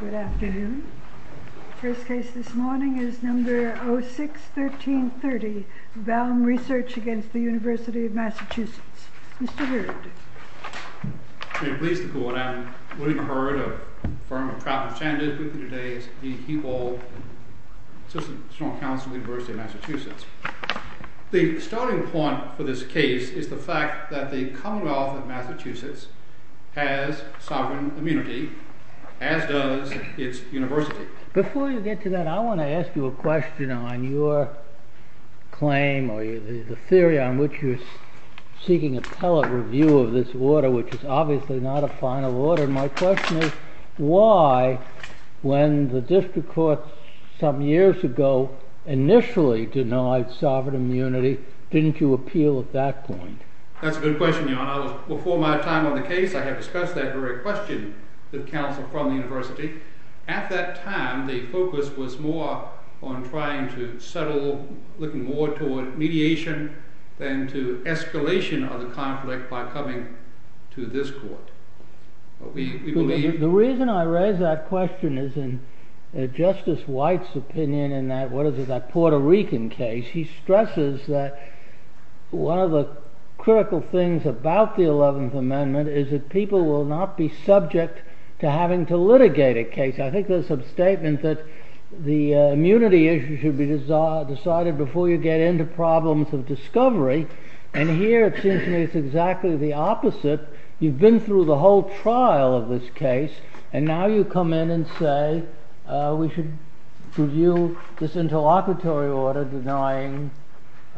Good afternoon. The first case this morning is No. 06-1330, Baum Research v. Univ. of Massachusetts. Mr. Heward. I am pleased to go on. I wouldn't have heard of a firm I'm proud to be standing with today. It's the Hewald S.C. Univ. of Massachusetts. The starting point for this case is the fact that the Commonwealth of Massachusetts has sovereign immunity, as does its university. Before you get to that, I want to ask you a question on your claim or the theory on which you're seeking appellate review of this order, which is obviously not a final order. My question is why, when the district court some years ago initially denied sovereign immunity, didn't you appeal at that point? That's a good question, Your Honor. Before my time on the case, I had discussed that very question with counsel from the university. At that time, the focus was more on trying to settle, looking more toward mediation than to escalation of the conflict by coming to this court. The reason I raise that question is in Justice White's opinion in that Puerto Rican case. He stresses that one of the critical things about the 11th Amendment is that people will not be subject to having to litigate a case. I think there's some statement that the immunity issue should be decided before you get into problems of discovery. And here it seems to me it's exactly the opposite. You've been through the whole trial of this case. And now you come in and say we should review this interlocutory order denying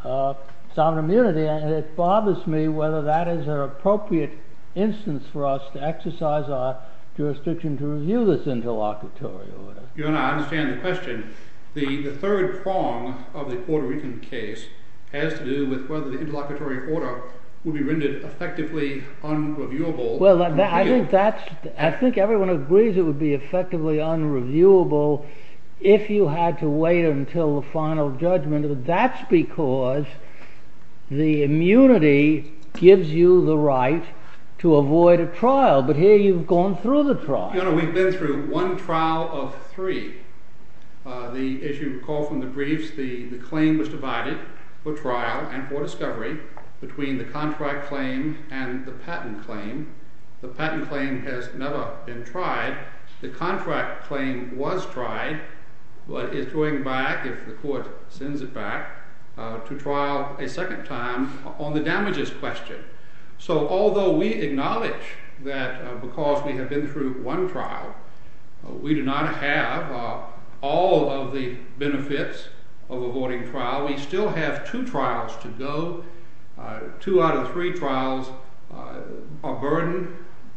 sovereign immunity. And it bothers me whether that is an appropriate instance for us to exercise our jurisdiction to review this interlocutory order. Your Honor, I understand the question. The third prong of the Puerto Rican case has to do with whether the interlocutory order would be rendered effectively unreviewable. Well, I think everyone agrees it would be effectively unreviewable if you had to wait until the final judgment. That's because the immunity gives you the right to avoid a trial. But here you've gone through the trial. Your Honor, we've been through one trial of three. As you recall from the briefs, the claim was divided for trial and for discovery between the contract claim and the patent claim. The patent claim has never been tried. The contract claim was tried but is going back, if the court sends it back, to trial a second time on the damages question. So although we acknowledge that because we have been through one trial, we do not have all of the benefits of avoiding trial, we still have two trials to go. Two out of three trials are burdened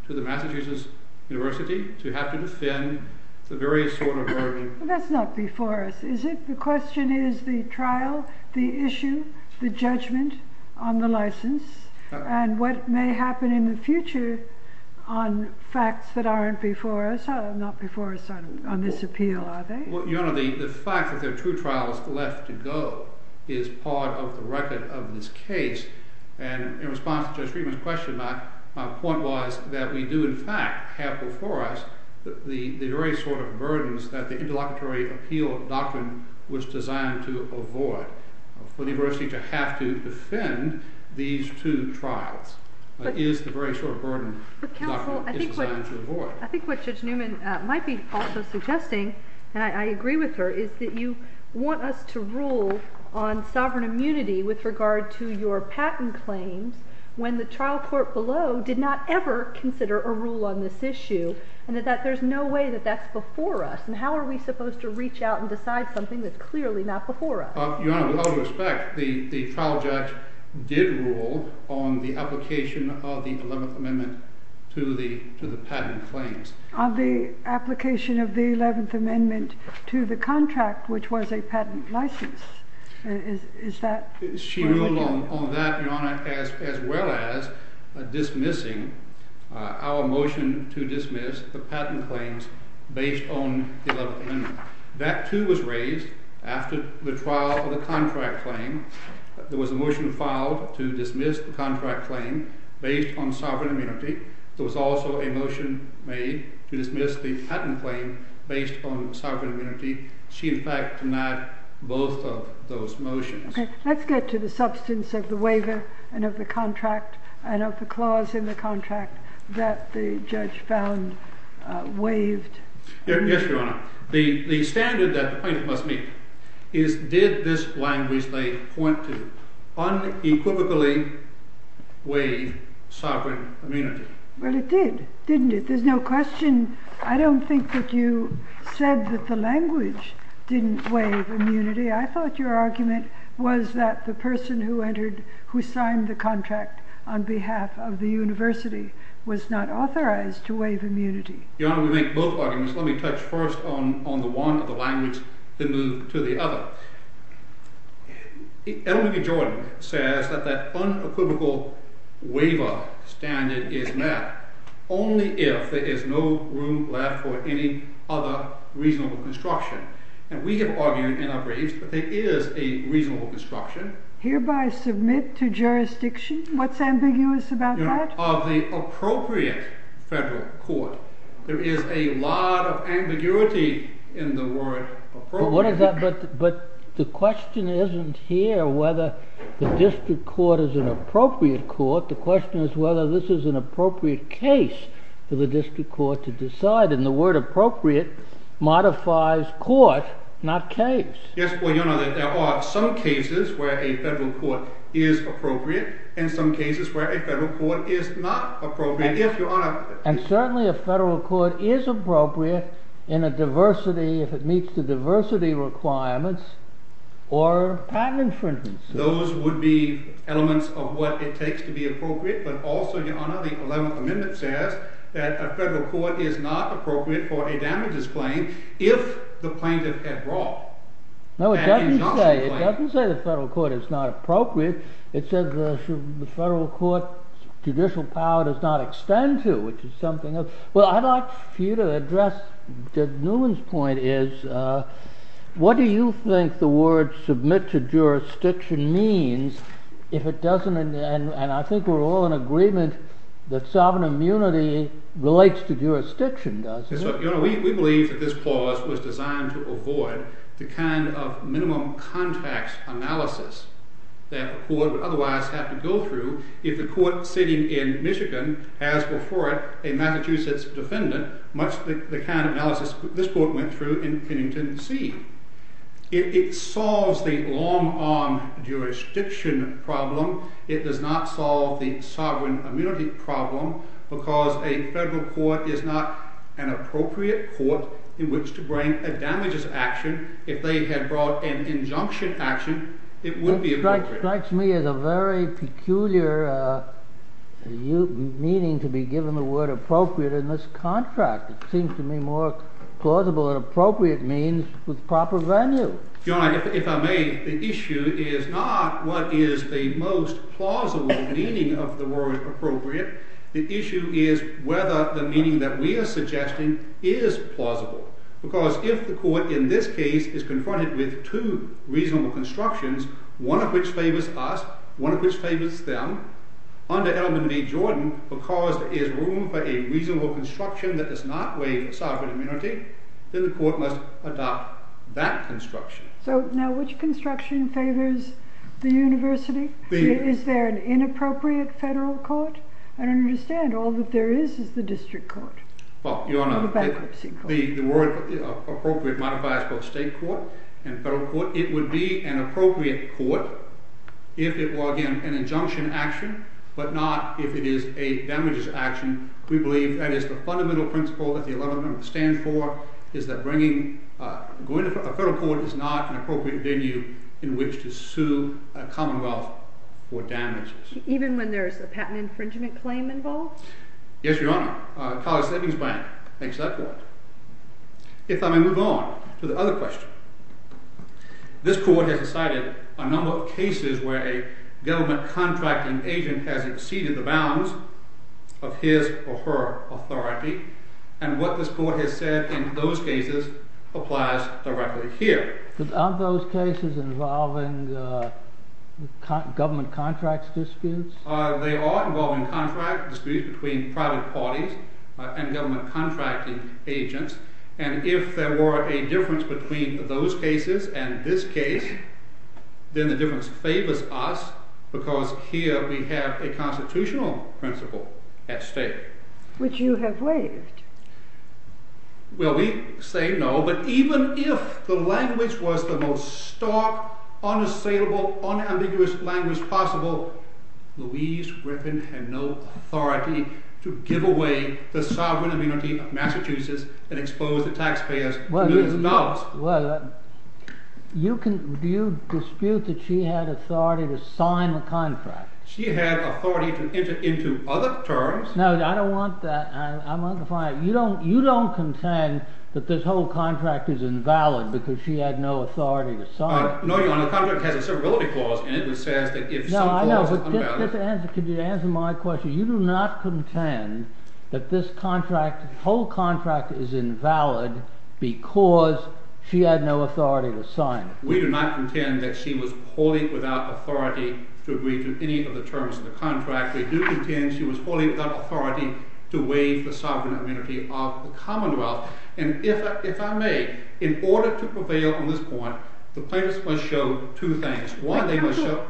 to the Massachusetts University to have to defend the various sort of burden. That's not before us, is it? The question is the trial, the issue, the judgment on the license, and what may happen in the future on facts that aren't before us, not before us on this appeal, are they? Your Honor, the fact that there are two trials left to go is part of the record of this case. And in response to Judge Newman's question, my point was that we do, in fact, have before us the very sort of burdens that the interlocutory appeal doctrine was designed to avoid. For the university to have to defend these two trials is the very sort of burden the doctrine is designed to avoid. I think what Judge Newman might be also suggesting, and I agree with her, is that you want us to rule on sovereign immunity with regard to your patent claims, when the trial court below did not ever consider a rule on this issue, and that there's no way that that's before us. And how are we supposed to reach out and decide something that's clearly not before us? Your Honor, with all due respect, the trial judge did rule on the application of the 11th Amendment to the patent claims. On the application of the 11th Amendment to the contract, which was a patent license. Is that correct? She ruled on that, Your Honor, as well as dismissing our motion to dismiss the patent claims based on the 11th Amendment. That, too, was raised after the trial for the contract claim. There was a motion filed to dismiss the contract claim based on sovereign immunity. There was also a motion made to dismiss the patent claim based on sovereign immunity. She, in fact, denied both of those motions. Let's get to the substance of the waiver and of the contract and of the clause in the contract that the judge found waived. Yes, Your Honor. The standard that the plaintiff must meet is, did this language they point to unequivocally waive sovereign immunity? Well, it did, didn't it? There's no question. I don't think that you said that the language didn't waive immunity. I thought your argument was that the person who signed the contract on behalf of the university was not authorized to waive immunity. Your Honor, we make both arguments. Let me touch first on the one or the language, then move to the other. Edelman v. Jordan says that that unequivocal waiver standard is met only if there is no room left for any other reasonable construction. And we have argued and I've raised that there is a reasonable construction. Hereby submit to jurisdiction? What's ambiguous about that? Of the appropriate federal court. There is a lot of ambiguity in the word appropriate. But the question isn't here whether the district court is an appropriate court. The question is whether this is an appropriate case for the district court to decide. And the word appropriate modifies court, not case. Yes, Your Honor. There are some cases where a federal court is appropriate and some cases where a federal court is not appropriate. And certainly a federal court is appropriate in a diversity, if it meets the diversity requirements or patent infringements. Those would be elements of what it takes to be appropriate. But also, Your Honor, the 11th Amendment says that a federal court is not appropriate for a damages claim if the plaintiff had brought an exhaustion claim. No, it doesn't say the federal court is not appropriate. It says the federal court judicial power does not extend to, which is something else. Well, I'd like for you to address Judge Newman's point is, what do you think the word submit to jurisdiction means if it doesn't? And I think we're all in agreement that sovereign immunity relates to jurisdiction, doesn't it? Yes, Your Honor. We believe that this clause was designed to avoid the kind of minimum context analysis that the court would otherwise have to go through if the court sitting in Michigan has before it a Massachusetts defendant, much the kind of analysis this court went through in Kennington C. It solves the long arm jurisdiction problem. It does not solve the sovereign immunity problem because a federal court is not an appropriate court in which to bring a damages action. If they had brought an injunction action, it would be appropriate. It strikes me as a very peculiar meaning to be given the word appropriate in this contract. It seems to me more plausible and appropriate means with proper venue. Your Honor, if I may, the issue is not what is the most plausible meaning of the word appropriate. The issue is whether the meaning that we are suggesting is plausible. Because if the court in this case is confronted with two reasonable constructions, one of which favors us, one of which favors them, under Edelman v. Jordan, because there is room for a reasonable construction that does not waive sovereign immunity, then the court must adopt that construction. So now which construction favors the university? Is there an inappropriate federal court? I don't understand. All that there is is the district court. Well, Your Honor, the word appropriate modifies both state court and federal court. So it would be an appropriate court if it were, again, an injunction action, but not if it is a damages action. We believe that is the fundamental principle that the 11th Amendment stands for, is that going to a federal court is not an appropriate venue in which to sue a commonwealth for damages. Even when there is a patent infringement claim involved? Yes, Your Honor. College Savings Bank makes that point. If I may move on to the other question. This court has decided a number of cases where a government contracting agent has exceeded the bounds of his or her authority, and what this court has said in those cases applies directly here. Are those cases involving government contracts disputes? They are involving contract disputes between private parties and government contracting agents, and if there were a difference between those cases and this case, then the difference favors us because here we have a constitutional principle at stake. Which you have waived. Well, we say no, but even if the language was the most stark, unassailable, unambiguous language possible, Louise Griffin had no authority to give away the sovereign immunity of Massachusetts and expose the taxpayers to millions of dollars. Do you dispute that she had authority to sign the contract? She had authority to enter into other terms. No, I don't want that. You don't contend that this whole contract is invalid because she had no authority to sign it. No, Your Honor. The contract has a certificate clause in it that says that if some clause is invalid… No, I know, but could you answer my question? You do not contend that this whole contract is invalid because she had no authority to sign it. We do not contend that she was wholly without authority to agree to any of the terms of the contract. We do contend she was wholly without authority to waive the sovereign immunity of the Commonwealth. And if I may, in order to prevail on this point, the plaintiffs must show two things. One, they must show…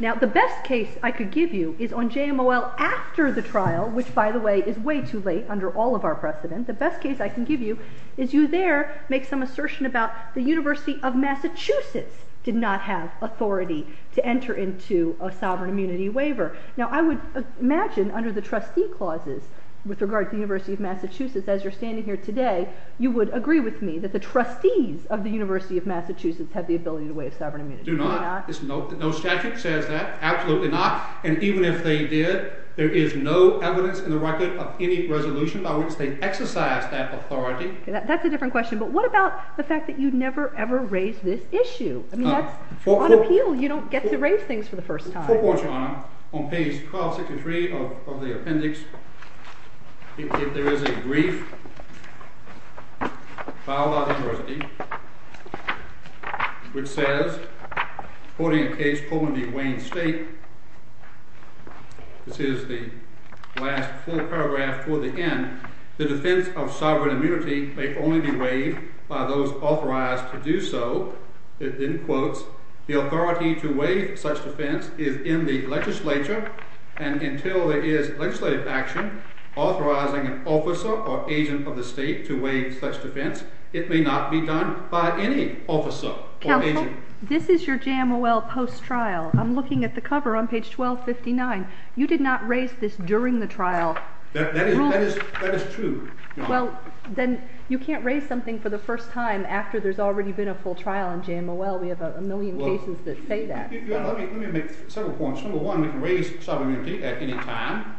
Now, the best case I could give you is on JMOL after the trial, which, by the way, is way too late under all of our precedent. The best case I can give you is you there make some assertion about the University of Massachusetts did not have authority to enter into a sovereign immunity waiver. Now, I would imagine under the trustee clauses with regard to the University of Massachusetts, as you're standing here today, you would agree with me that the trustees of the University of Massachusetts have the ability to waive sovereign immunity. Do not. No statute says that. Absolutely not. And even if they did, there is no evidence in the record of any resolution by which they exercised that authority. That's a different question. But what about the fact that you never, ever raised this issue? I mean, that's on appeal. You don't get to raise things for the first time. My fourth point, Your Honor, on page 1263 of the appendix, if there is a brief filed by the University which says, quoting a case called the Wayne State, this is the last full paragraph toward the end, the defense of sovereign immunity may only be waived by those authorized to do so. In quotes, the authority to waive such defense is in the legislature, and until there is legislative action authorizing an officer or agent of the state to waive such defense, it may not be done by any officer or agent. Counsel, this is your Jamowell post-trial. I'm looking at the cover on page 1259. You did not raise this during the trial. That is true. Well, then you can't raise something for the first time after there's already been a full trial in Jamowell. We have a million cases that say that. Let me make several points. Number one, we can raise sovereign immunity at any time.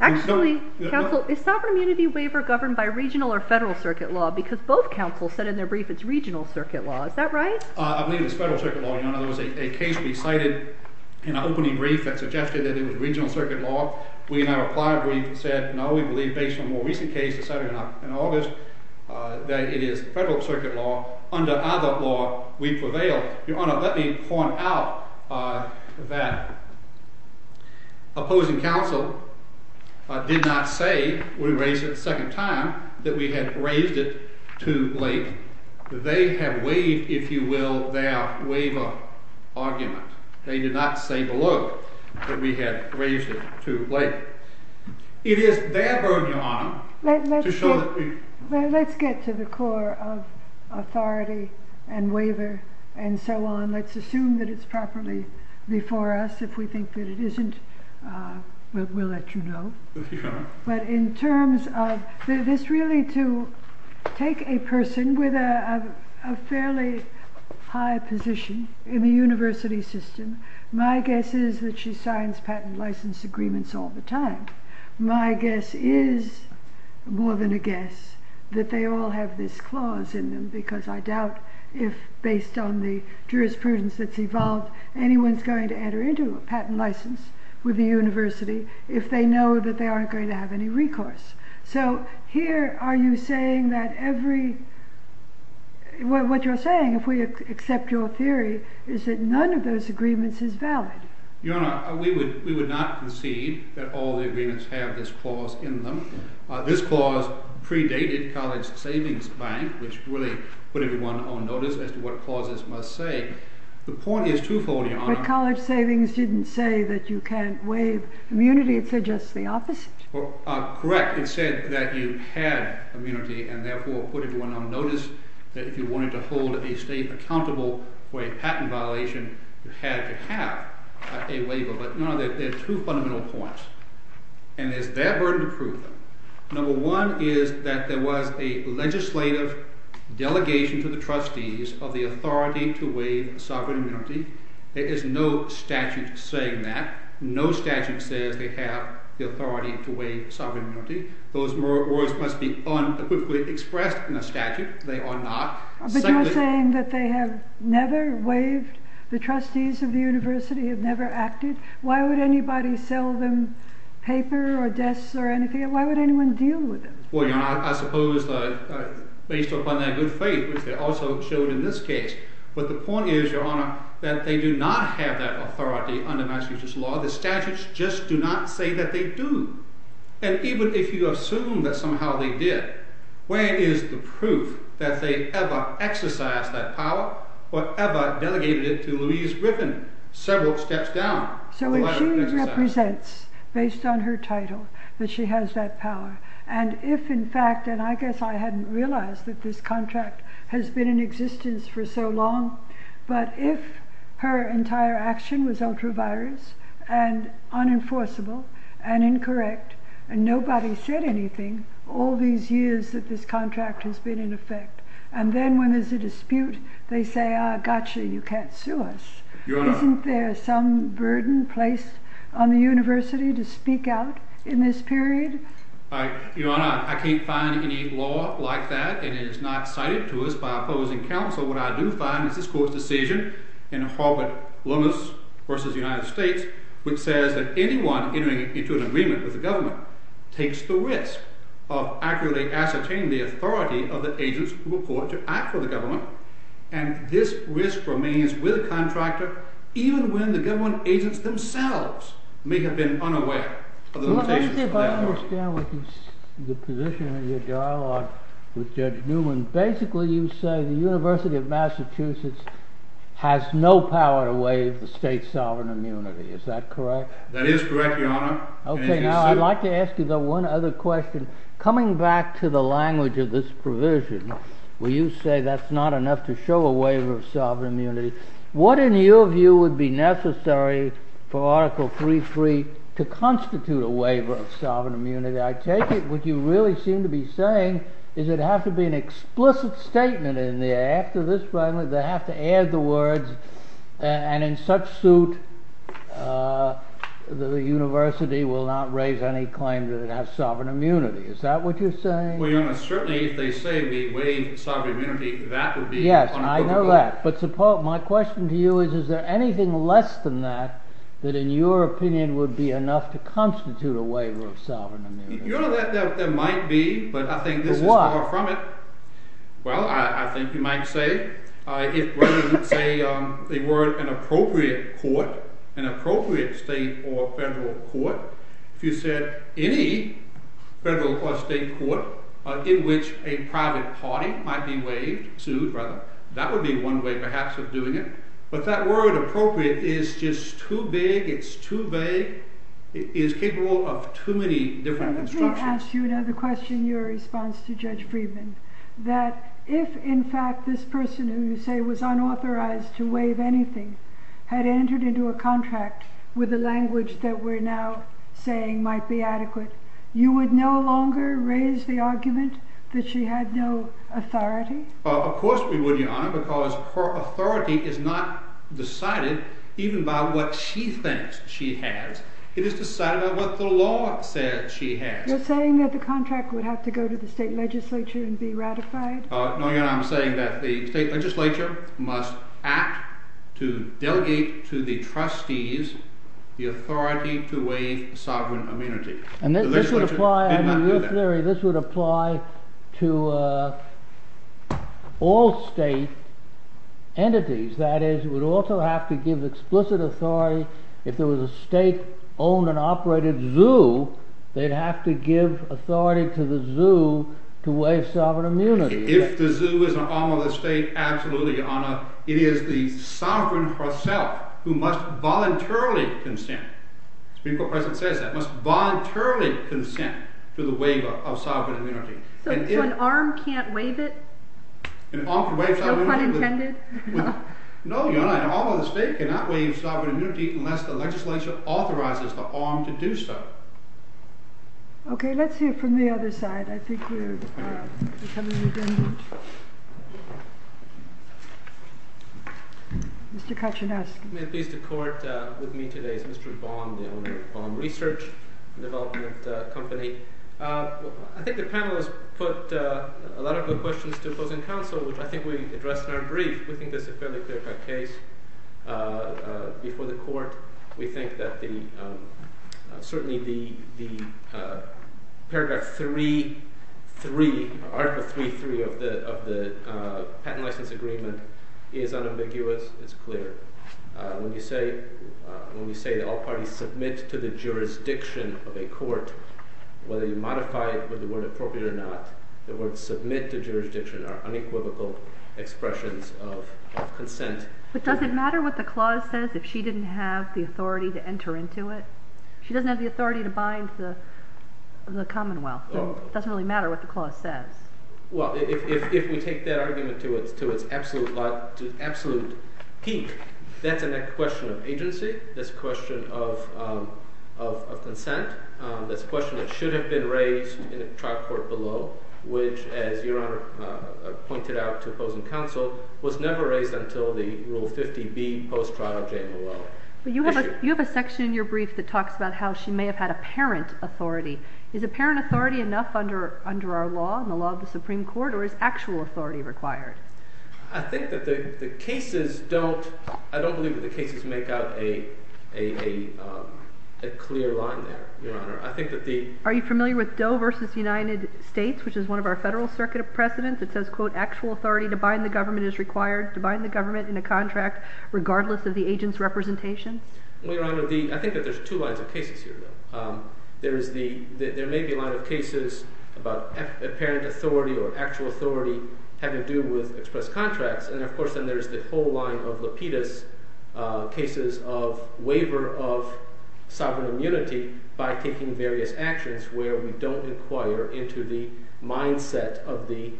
Actually, Counsel, is sovereign immunity waiver governed by regional or federal circuit law? Because both counsels said in their brief it's regional circuit law. Is that right? I believe it's federal circuit law, Your Honor. There was a case we cited in an opening brief that suggested that it was regional circuit law. We, in our prior brief, said no. We believe based on a more recent case decided in August that it is federal circuit law. Under other law, we prevail. Your Honor, let me point out that opposing counsel did not say when we raised it the second time that we had raised it too late. They have waived, if you will, their waiver argument. They did not say below that we had raised it too late. Let's get to the core of authority and waiver and so on. Let's assume that it's properly before us. If we think that it isn't, we'll let you know. But in terms of this really to take a person with a fairly high position in the university system, my guess is that she signs patent license agreements all the time. My guess is more than a guess that they all have this clause in them, because I doubt if based on the jurisprudence that's evolved, anyone's going to enter into a patent license with the university if they know that they aren't going to have any recourse. So here, what you're saying, if we accept your theory, is that none of those agreements is valid. Your Honor, we would not concede that all the agreements have this clause in them. This clause predated College Savings Bank, which really put everyone on notice as to what clauses must say. The point is twofold, Your Honor. But College Savings didn't say that you can't waive immunity. It said just the opposite. Correct. It said that you had immunity and therefore put everyone on notice that if you wanted to hold a state accountable for a patent violation, you had to have a waiver. But no, there are two fundamental points, and it's their burden to prove them. Number one is that there was a legislative delegation to the trustees of the authority to waive sovereign immunity. There is no statute saying that. No statute says they have the authority to waive sovereign immunity. Those words must be unequivocally expressed in a statute. They are not. But you're saying that they have never waived? The trustees of the university have never acted? Why would anybody sell them paper or desks or anything? Why would anyone deal with them? Well, Your Honor, I suppose based upon their good faith, which they also showed in this case. But the point is, Your Honor, that they do not have that authority under Massachusetts law. The statutes just do not say that they do. And even if you assume that somehow they did, where is the proof that they ever exercised that power or ever delegated it to Louise Griffin several steps down? So if she represents, based on her title, that she has that power, and if in fact, and I guess I hadn't realized that this contract has been in existence for so long, but if her entire action was ultra virus and unenforceable and incorrect, and nobody said anything all these years that this contract has been in effect. And then when there's a dispute, they say, gotcha, you can't sue us. Isn't there some burden placed on the university to speak out in this period? Your Honor, I can't find any law like that, and it is not cited to us by opposing counsel. What I do find is this court's decision in Harvard-Loomis v. United States, which says that anyone entering into an agreement with the government takes the risk of accurately ascertaining the authority of the agents who report to act for the government. And this risk remains with the contractor even when the government agents themselves may have been unaware of the limitations of that authority. Let me see if I understand the position of your dialogue with Judge Newman. Basically you say the University of Massachusetts has no power to waive the state sovereign immunity, is that correct? That is correct, Your Honor. Okay, now I'd like to ask you one other question. Coming back to the language of this provision, where you say that's not enough to show a waiver of sovereign immunity, what in your view would be necessary for Article 3.3 to constitute a waiver of sovereign immunity? I take it what you really seem to be saying is that there has to be an explicit statement in there after this fragment, they have to add the words, and in such suit the university will not raise any claim that it has sovereign immunity. Is that what you're saying? Well, Your Honor, certainly if they say we waive sovereign immunity, that would be unapproved of law. My question to you is, is there anything less than that, that in your opinion would be enough to constitute a waiver of sovereign immunity? Your Honor, there might be, but I think this is far from it. For what? Well, I think you might say, if they were an appropriate court, an appropriate state or federal court, if you said any federal or state court in which a private party might be waived, sued rather, that would be one way perhaps of doing it. But that word appropriate is just too big, it's too vague, it's capable of too many different constructions. Let me ask you another question in your response to Judge Friedman, that if in fact this person who you say was unauthorized to waive anything had entered into a contract with the language that we're now saying might be adequate, you would no longer raise the argument that she had no authority? Of course we would, Your Honor, because her authority is not decided even by what she thinks she has, it is decided by what the law says she has. You're saying that the contract would have to go to the state legislature and be ratified? No, Your Honor, I'm saying that the state legislature must act to delegate to the trustees the authority to waive sovereign immunity. And this would apply, in your theory, this would apply to all state entities, that is, it would also have to give explicit authority, if there was a state-owned and operated zoo, they'd have to give authority to the zoo to waive sovereign immunity. If the zoo is an arm of the state, absolutely, Your Honor, it is the sovereign herself who must voluntarily consent to the waiver of sovereign immunity. So an arm can't waive it? No pun intended? No, Your Honor, an arm of the state cannot waive sovereign immunity unless the legislature authorizes the arm to do so. Okay, let's hear from the other side. I think we're coming to the end. Mr. Kachinowski. May it please the Court, with me today is Mr. Baum, the owner of Baum Research and Development Company. I think the panel has put a lot of good questions to opposing counsel, which I think we addressed in our brief. We think this is a fairly clear-cut case before the Court. We think that certainly the paragraph 3.3, article 3.3 of the patent license agreement is unambiguous, it's clear. When you say that all parties submit to the jurisdiction of a court, whether you modify it with the word appropriate or not, the words submit to jurisdiction are unequivocal expressions of consent. But does it matter what the clause says if she didn't have the authority to enter into it? She doesn't have the authority to bind the Commonwealth. It doesn't really matter what the clause says. Well, if we take that argument to its absolute peak, that's a question of agency, that's a question of consent, that's a question that should have been raised in the trial court below, which, as Your Honor pointed out to opposing counsel, was never raised until the Rule 50B post-trial JMOL. But you have a section in your brief that talks about how she may have had apparent authority. Is apparent authority enough under our law and the law of the Supreme Court, or is actual authority required? I think that the cases don't, I don't believe that the cases make out a clear line there, Your Honor. I think that the... Are you familiar with Doe v. United States, which is one of our federal circuit precedents? It says, quote, actual authority to bind the government is required to bind the government in a contract regardless of the agent's representation. I think that there's two lines of cases here, though. There may be a line of cases about apparent authority or actual authority having to do with express contracts, and of course then there's the whole line of Lapidus cases of waiver of sovereign immunity by taking various actions where we don't inquire into the mindset of the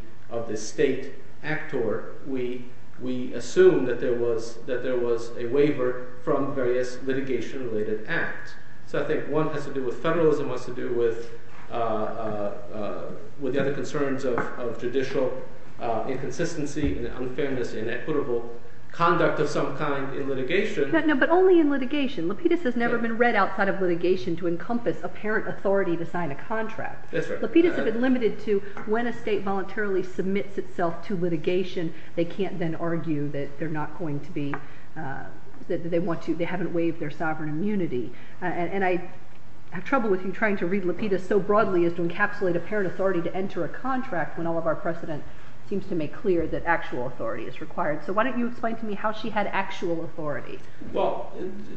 state actor. We assume that there was a waiver from various litigation-related acts. So I think one has to do with federalism, one has to do with the other concerns of judicial inconsistency and unfairness and equitable conduct of some kind in litigation. But only in litigation. Lapidus has never been read outside of litigation to encompass apparent authority to sign a contract. Lapidus has been limited to when a state voluntarily submits itself to litigation, they can't then argue that they're not going to be, that they want to, they haven't waived their sovereign immunity. And I have trouble with you trying to read Lapidus so broadly as to encapsulate apparent authority to enter a contract when all of our precedent seems to make clear that actual authority is required. So why don't you explain to me how she had actual authority? Well,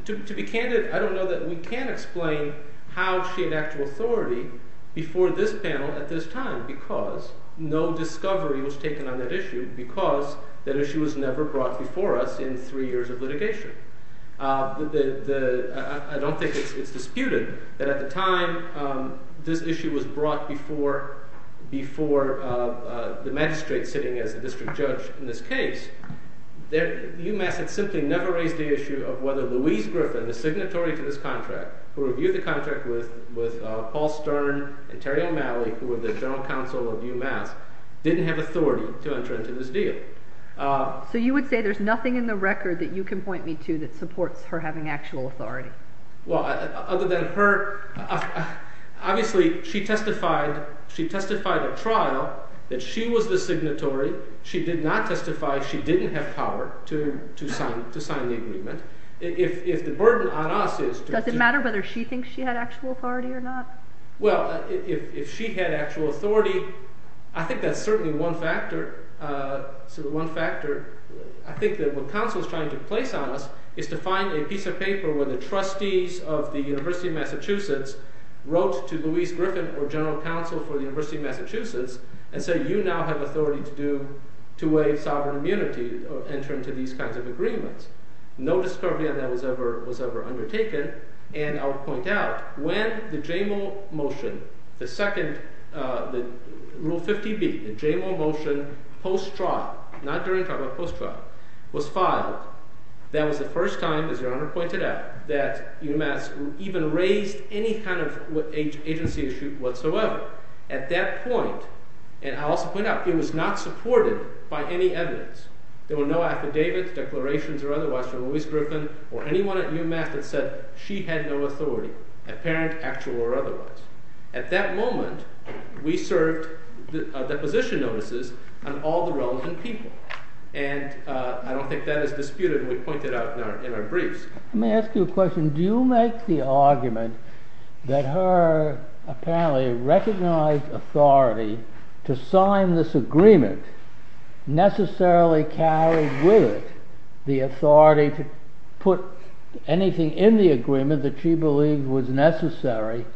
to be candid, I don't know that we can explain how she had actual authority before this panel at this time because no discovery was taken on that issue because that issue was never brought before us in three years of litigation. I don't think it's disputed that at the time this issue was brought before the magistrate sitting as the district judge in this case, UMass had simply never raised the issue of whether Louise Griffin, the signatory to this contract, who reviewed the contract with Paul Stern and Terry O'Malley, who were the general counsel of UMass, didn't have authority to enter into this deal. So you would say there's nothing in the record that you can point me to that supports her having actual authority? Well, other than her, obviously she testified at trial that she was the signatory. She did not testify she didn't have power to sign the agreement. If the burden on us is… Does it matter whether she thinks she had actual authority or not? Well, if she had actual authority, I think that's certainly one factor. I think that what counsel is trying to place on us is to find a piece of paper where the trustees of the University of Massachusetts wrote to Louise Griffin or general counsel for the University of Massachusetts and say you now have authority to waive sovereign immunity or enter into these kinds of agreements. No discovery on that was ever undertaken, and I'll point out when the JMO motion, the second, the Rule 50B, the JMO motion post-trial, not during trial, but post-trial, was filed, that was the first time, as Your Honor pointed out, that UMass even raised any kind of agency issue whatsoever. At that point, and I'll also point out, it was not supported by any evidence. There were no affidavits, declarations, or otherwise from Louise Griffin or anyone at UMass that said she had no authority, apparent, actual, or otherwise. At that moment, we served deposition notices on all the relevant people, and I don't think that is disputed. We point that out in our briefs. Let me ask you a question. Do you make the argument that her apparently recognized authority to sign this agreement necessarily carried with it the authority to put anything in the agreement that she believed was necessary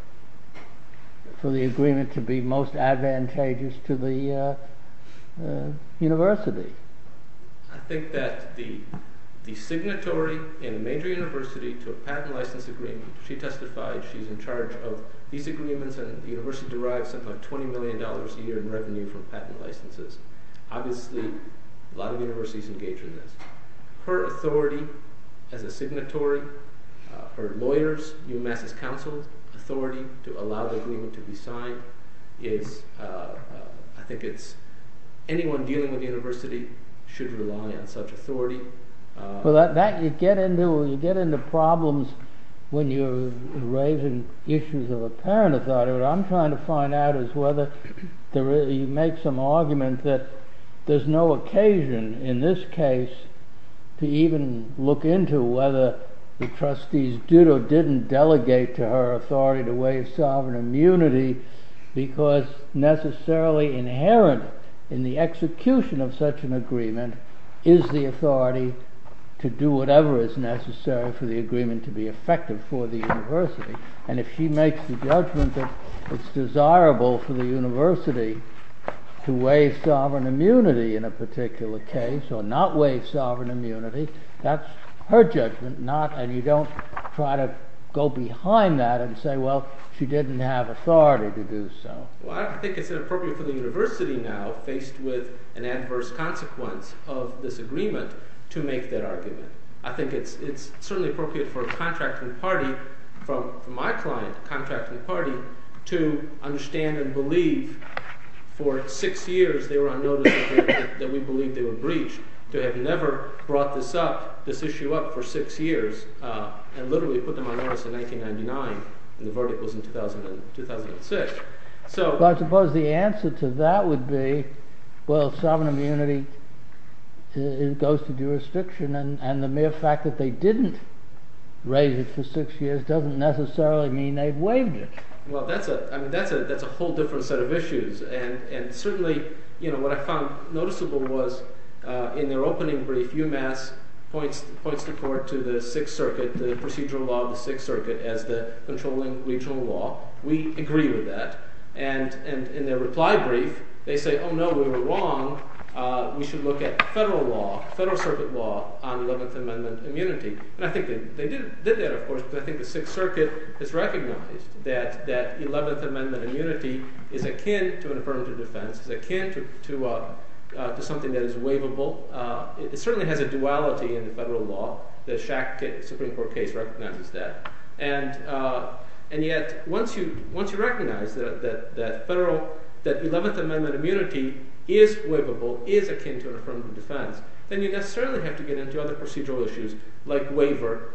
for the agreement to be most advantageous to the university? I think that the signatory in a major university to a patent license agreement, she testified, she's in charge of these agreements, and the university derives something like $20 million a year in revenue from patent licenses. Obviously, a lot of universities engage in this. Her authority as a signatory, her lawyers, UMass' counsel's authority to allow the agreement to be signed is, I think it's, anyone dealing with the university should rely on such authority. Well, you get into problems when you're raising issues of apparent authority. What I'm trying to find out is whether you make some argument that there's no occasion in this case to even look into whether the trustees did or didn't delegate to her authority to waive sovereign immunity, because necessarily inherent in the execution of such an agreement is the authority to do whatever is necessary for the agreement to be effective for the university. And if she makes the judgment that it's desirable for the university to waive sovereign immunity in a particular case or not waive sovereign immunity, that's her judgment, and you don't try to go behind that and say, well, she didn't have authority to do so. Well, I think it's inappropriate for the university now, faced with an adverse consequence of this agreement, to make that argument. I think it's certainly appropriate for a contracting party, for my client, a contracting party, to understand and believe for six years they were on notice that we believed they were breached, to have never brought this up, this issue up for six years, and literally put them on notice in 1999 and the verdict was in 2006. I suppose the answer to that would be, well, sovereign immunity goes to jurisdiction, and the mere fact that they didn't raise it for six years doesn't necessarily mean they've waived it. Well, that's a whole different set of issues, and certainly what I found noticeable was in their opening brief, UMass points the court to the Sixth Circuit, the procedural law of the Sixth Circuit as the controlling regional law. We agree with that, and in their reply brief, they say, oh no, we were wrong. We should look at federal law, federal circuit law on Eleventh Amendment immunity. And I think they did that, of course, because I think the Sixth Circuit has recognized that Eleventh Amendment immunity is akin to an affirmative defense, is akin to something that is waivable. It certainly has a duality in the federal law. The Supreme Court case recognizes that. And yet, once you recognize that Eleventh Amendment immunity is waivable, is akin to an affirmative defense, then you necessarily have to get into other procedural issues like waiver,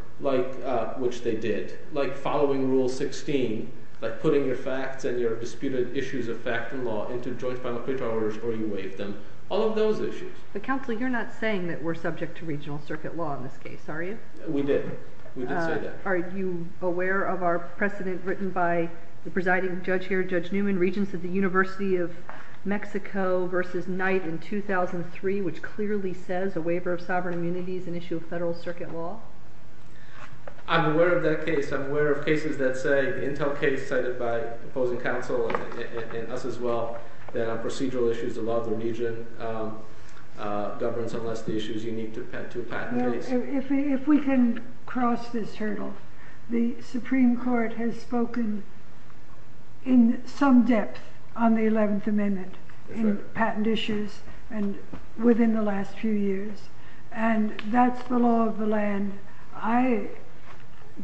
which they did, like following Rule 16, like putting your facts and your disputed issues of fact and law into joint final criteria or you waive them, all of those issues. But counsel, you're not saying that we're subject to regional circuit law in this case, are you? We didn't. We didn't say that. Are you aware of our precedent written by the presiding judge here, Judge Newman, Regents of the University of Mexico versus Knight in 2003, which clearly says a waiver of sovereign immunity is an issue of federal circuit law? I'm aware of that case. I'm aware of cases that say, the Intel case cited by opposing counsel and us as well, that our procedural issues allow the region governance unless the issue is unique to a patent case. If we can cross this hurdle, the Supreme Court has spoken in some depth on the Eleventh Amendment in patent issues and within the last few years, and that's the law of the land. I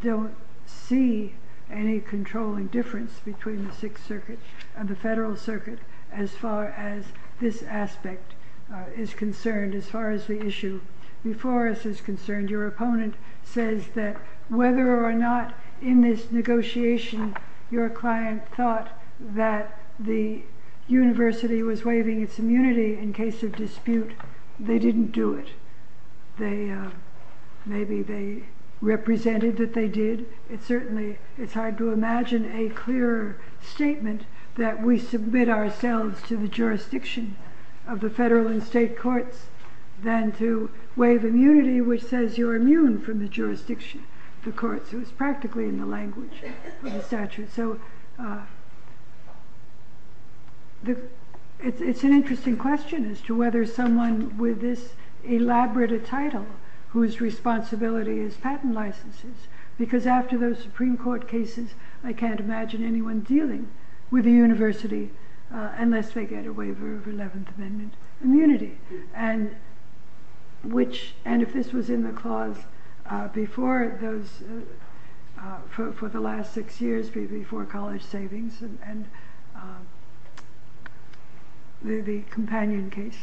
don't see any controlling difference between the Sixth Circuit and the federal circuit as far as this aspect is concerned. As far as the issue before us is concerned, your opponent says that whether or not in this negotiation, your client thought that the university was waiving its immunity in case of dispute, they didn't do it. Maybe they represented that they did. It's certainly, it's hard to imagine a clearer statement that we submit ourselves to the jurisdiction of the federal and state courts than to waive immunity, which says you're immune from the jurisdiction. It was practically in the language of the statute. So it's an interesting question as to whether someone with this elaborate a title whose responsibility is patent licenses, because after those Supreme Court cases, I can't imagine anyone dealing with the university unless they get a waiver of Eleventh Amendment immunity. And which, and if this was in the clause before those, for the last six years before college savings and the companion case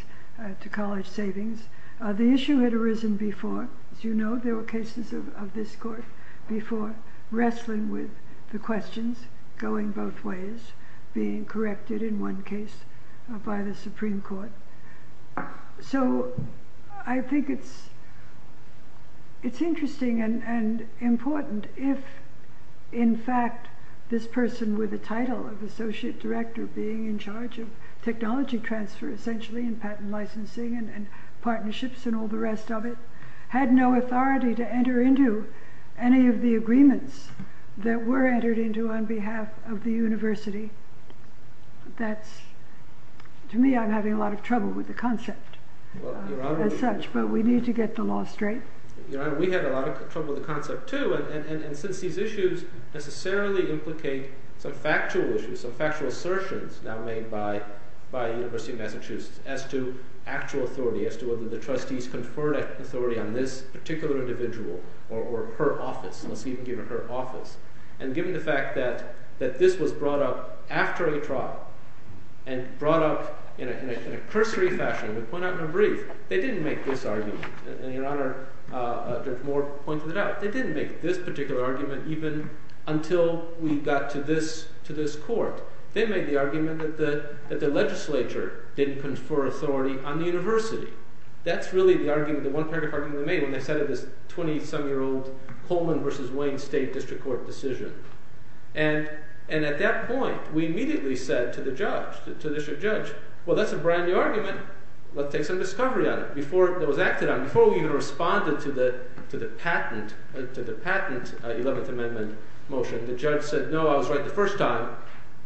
to college savings, the issue had arisen before, as you know, there were cases of this court before wrestling with the questions going both ways, being corrected in one case by the Supreme Court. So I think it's interesting and important if, in fact, this person with a title of associate director being in charge of technology transfer, essentially in patent licensing and partnerships and all the rest of it, had no authority to enter into any of the agreements that were entered into on behalf of the university. To me, I'm having a lot of trouble with the concept as such, but we need to get the law straight. Your Honor, we had a lot of trouble with the concept, too. And since these issues necessarily implicate some factual issues, some factual assertions now made by the University of Massachusetts as to actual authority, as to whether the trustees conferred authority on this particular individual or her office. And given the fact that this was brought up after a trial and brought up in a cursory fashion, we point out in a brief, they didn't make this argument. And Your Honor, Judge Moore pointed it out. They didn't make this particular argument even until we got to this court. They made the argument that the legislature didn't confer authority on the university. That's really the one paragraph argument they made when they started this 20-some-year-old Coleman v. Wayne State District Court decision. And at that point, we immediately said to the judge, to the district judge, well, that's a brand new argument. Let's take some discovery on it. Before it was acted on, before we even responded to the patent 11th Amendment motion, the judge said, no, I was right the first time.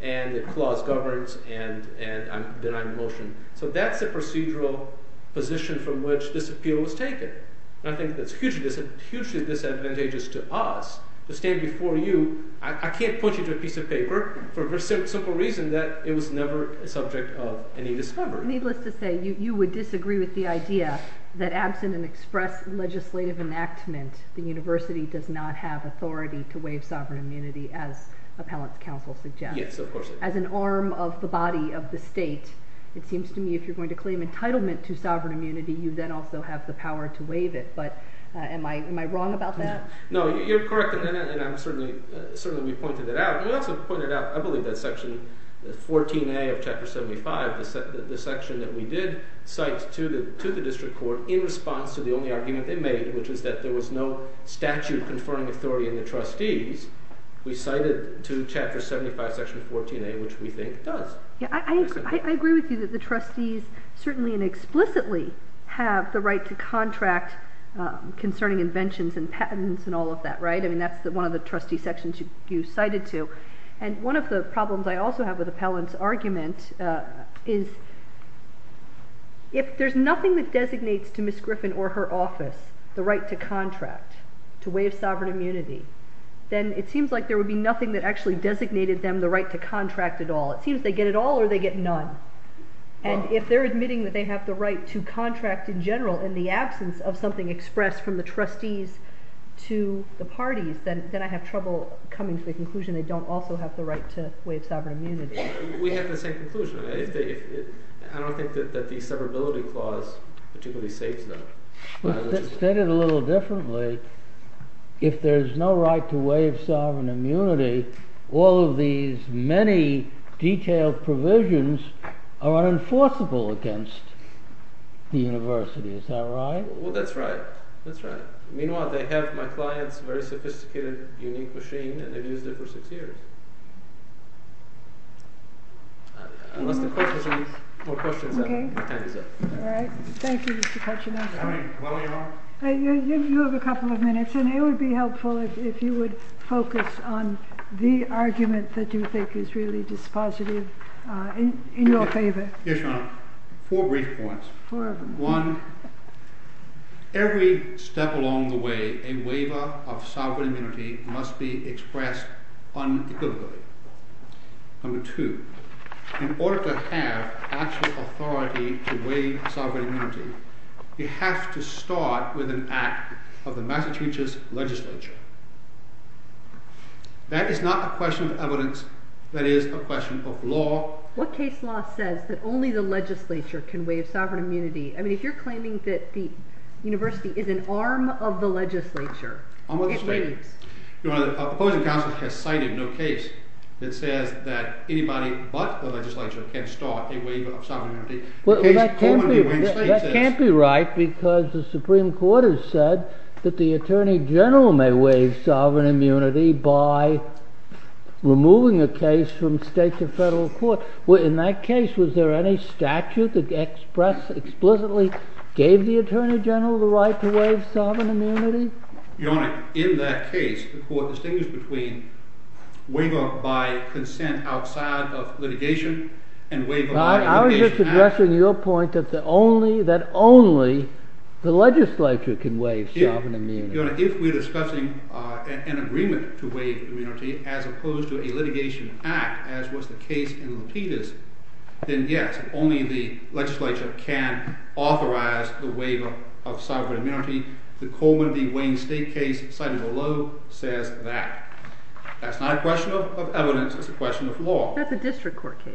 And the clause governs, and I'm denying the motion. So that's the procedural position from which this appeal was taken. And I think that's hugely disadvantageous to us to stand before you. I can't point you to a piece of paper for the simple reason that it was never a subject of any discovery. So needless to say, you would disagree with the idea that absent an express legislative enactment, the university does not have authority to waive sovereign immunity as appellant's counsel suggests. Yes, of course. As an arm of the body of the state, it seems to me if you're going to claim entitlement to sovereign immunity, you then also have the power to waive it. But am I wrong about that? No, you're correct. And certainly we pointed that out. We also pointed out, I believe that Section 14A of Chapter 75, the section that we did cite to the district court in response to the only argument they made, which is that there was no statute conferring authority in the trustees, we cited to Chapter 75, Section 14A, which we think does. I agree with you that the trustees certainly and explicitly have the right to contract concerning inventions and patents and all of that, right? I mean, that's one of the trustee sections you cited to. And one of the problems I also have with appellant's argument is if there's nothing that designates to Ms. Griffin or her office the right to contract, to waive sovereign immunity, then it seems like there would be nothing that actually designated them the right to contract at all. It seems they get it all or they get none. And if they're admitting that they have the right to contract in general in the absence of something expressed from the trustees to the parties, then I have trouble coming to the conclusion they don't also have the right to waive sovereign immunity. We have the same conclusion. I don't think that the severability clause particularly states that. It's stated a little differently. If there's no right to waive sovereign immunity, all of these many detailed provisions are unenforceable against the university. Is that right? Well, that's right. That's right. Meanwhile, they have my client's very sophisticated, unique machine, and they've used it for six years. Unless the questions are more questions. All right. Thank you. You have a couple of minutes, and it would be helpful if you would focus on the argument that you think is really dispositive in your favor. Yes, Your Honor. Four brief points. One, every step along the way, a waiver of sovereign immunity must be expressed unequivocally. Number two, in order to have actual authority to waive sovereign immunity, you have to start with an act of the Massachusetts legislature. That is not a question of evidence. That is a question of law. What case law says that only the legislature can waive sovereign immunity? I mean, if you're claiming that the university is an arm of the legislature. Opposing counsel has cited no case that says that anybody but the legislature can start a waiver of sovereign immunity. Well, that can't be right because the Supreme Court has said that the attorney general may waive sovereign immunity by removing a case from state to federal court. In that case, was there any statute that explicitly gave the attorney general the right to waive sovereign immunity? Your Honor, in that case, the court distinguished between waiver by consent outside of litigation and waiver by indication. I was just addressing your point that only the legislature can waive sovereign immunity. Your Honor, if we're discussing an agreement to waive immunity as opposed to a litigation act as was the case in Lapidus, then yes, only the legislature can authorize the waiver of sovereign immunity. The Coleman v. Wayne State case cited below says that. That's not a question of evidence. It's a question of law. That's a district court case.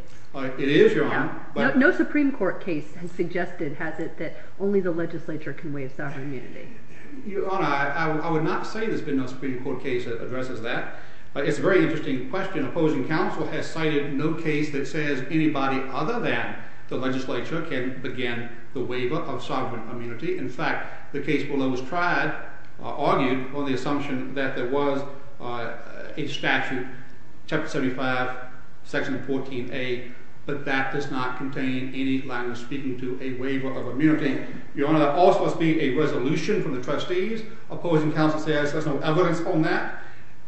It is, Your Honor. No Supreme Court case has suggested, has it, that only the legislature can waive sovereign immunity. Your Honor, I would not say there's been no Supreme Court case that addresses that. It's a very interesting question. Opposing counsel has cited no case that says anybody other than the legislature can begin the waiver of sovereign immunity. In fact, the case below argued on the assumption that there was a statute, Chapter 75, Section 14a, but that does not contain any language speaking to a waiver of immunity. Your Honor, that also must be a resolution from the trustees. Opposing counsel says there's no evidence on that.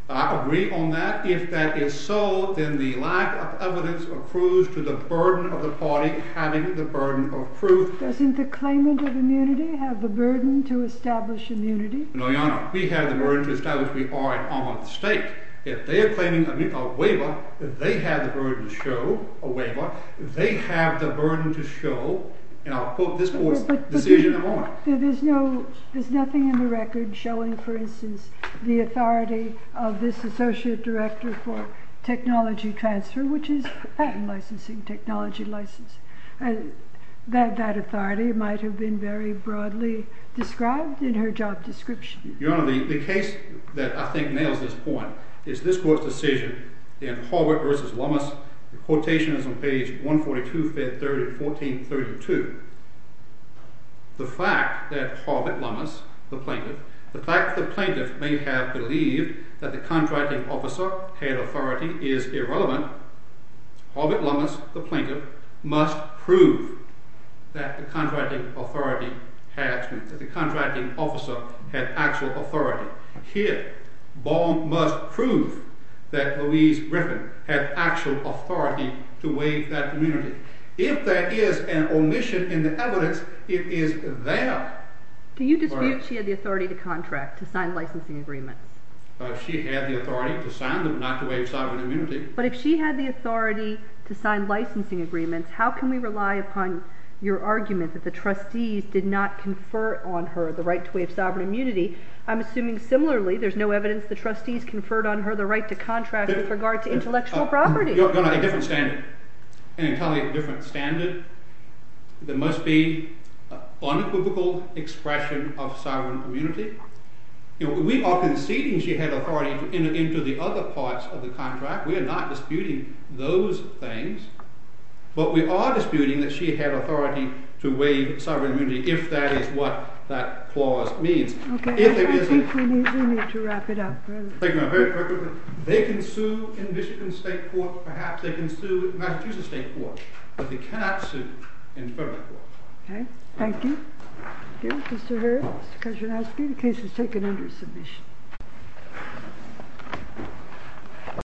I agree on that. If that is so, then the lack of evidence approves to the burden of the party having the burden of proof. Doesn't the claimant of immunity have the burden to establish immunity? No, Your Honor. We have the burden to establish we are an arm of the state. If they are claiming a waiver, if they have the burden to show a waiver, if they have the burden to show, and I'll quote this court's decision at the moment. There's nothing in the record showing, for instance, the authority of this associate director for technology transfer, which is patent licensing, technology license. That authority might have been very broadly described in her job description. Your Honor, the case that I think nails this point is this court's decision in Harbert v. Lummis. The quotation is on page 142, Fed 30, 1432. The fact that Harbert Lummis, the plaintiff, the fact that the plaintiff may have believed that the contracting officer had authority is irrelevant. Harbert Lummis, the plaintiff, must prove that the contracting officer had actual authority. Here, Baum must prove that Louise Griffin had actual authority to waive that immunity. If there is an omission in the evidence, it is there. Do you dispute she had the authority to contract, to sign licensing agreements? She had the authority to sign them, not to waive sovereign immunity. But if she had the authority to sign licensing agreements, how can we rely upon your argument that the trustees did not confer on her the right to waive sovereign immunity? I'm assuming, similarly, there's no evidence the trustees conferred on her the right to contract with regard to intellectual property. Your Honor, a different standard. An entirely different standard. There must be unequivocal expression of sovereign immunity. We are conceding she had authority to enter into the other parts of the contract. We are not disputing those things. But we are disputing that she had authority to waive sovereign immunity, if that is what that clause means. Okay, I think we need to wrap it up. They can sue in Michigan State Court. Perhaps they can sue in Massachusetts State Court. But they cannot sue in federal court. Okay, thank you. Thank you, Mr. Hurd. Mr. Kuczynski, the case is taken under submission.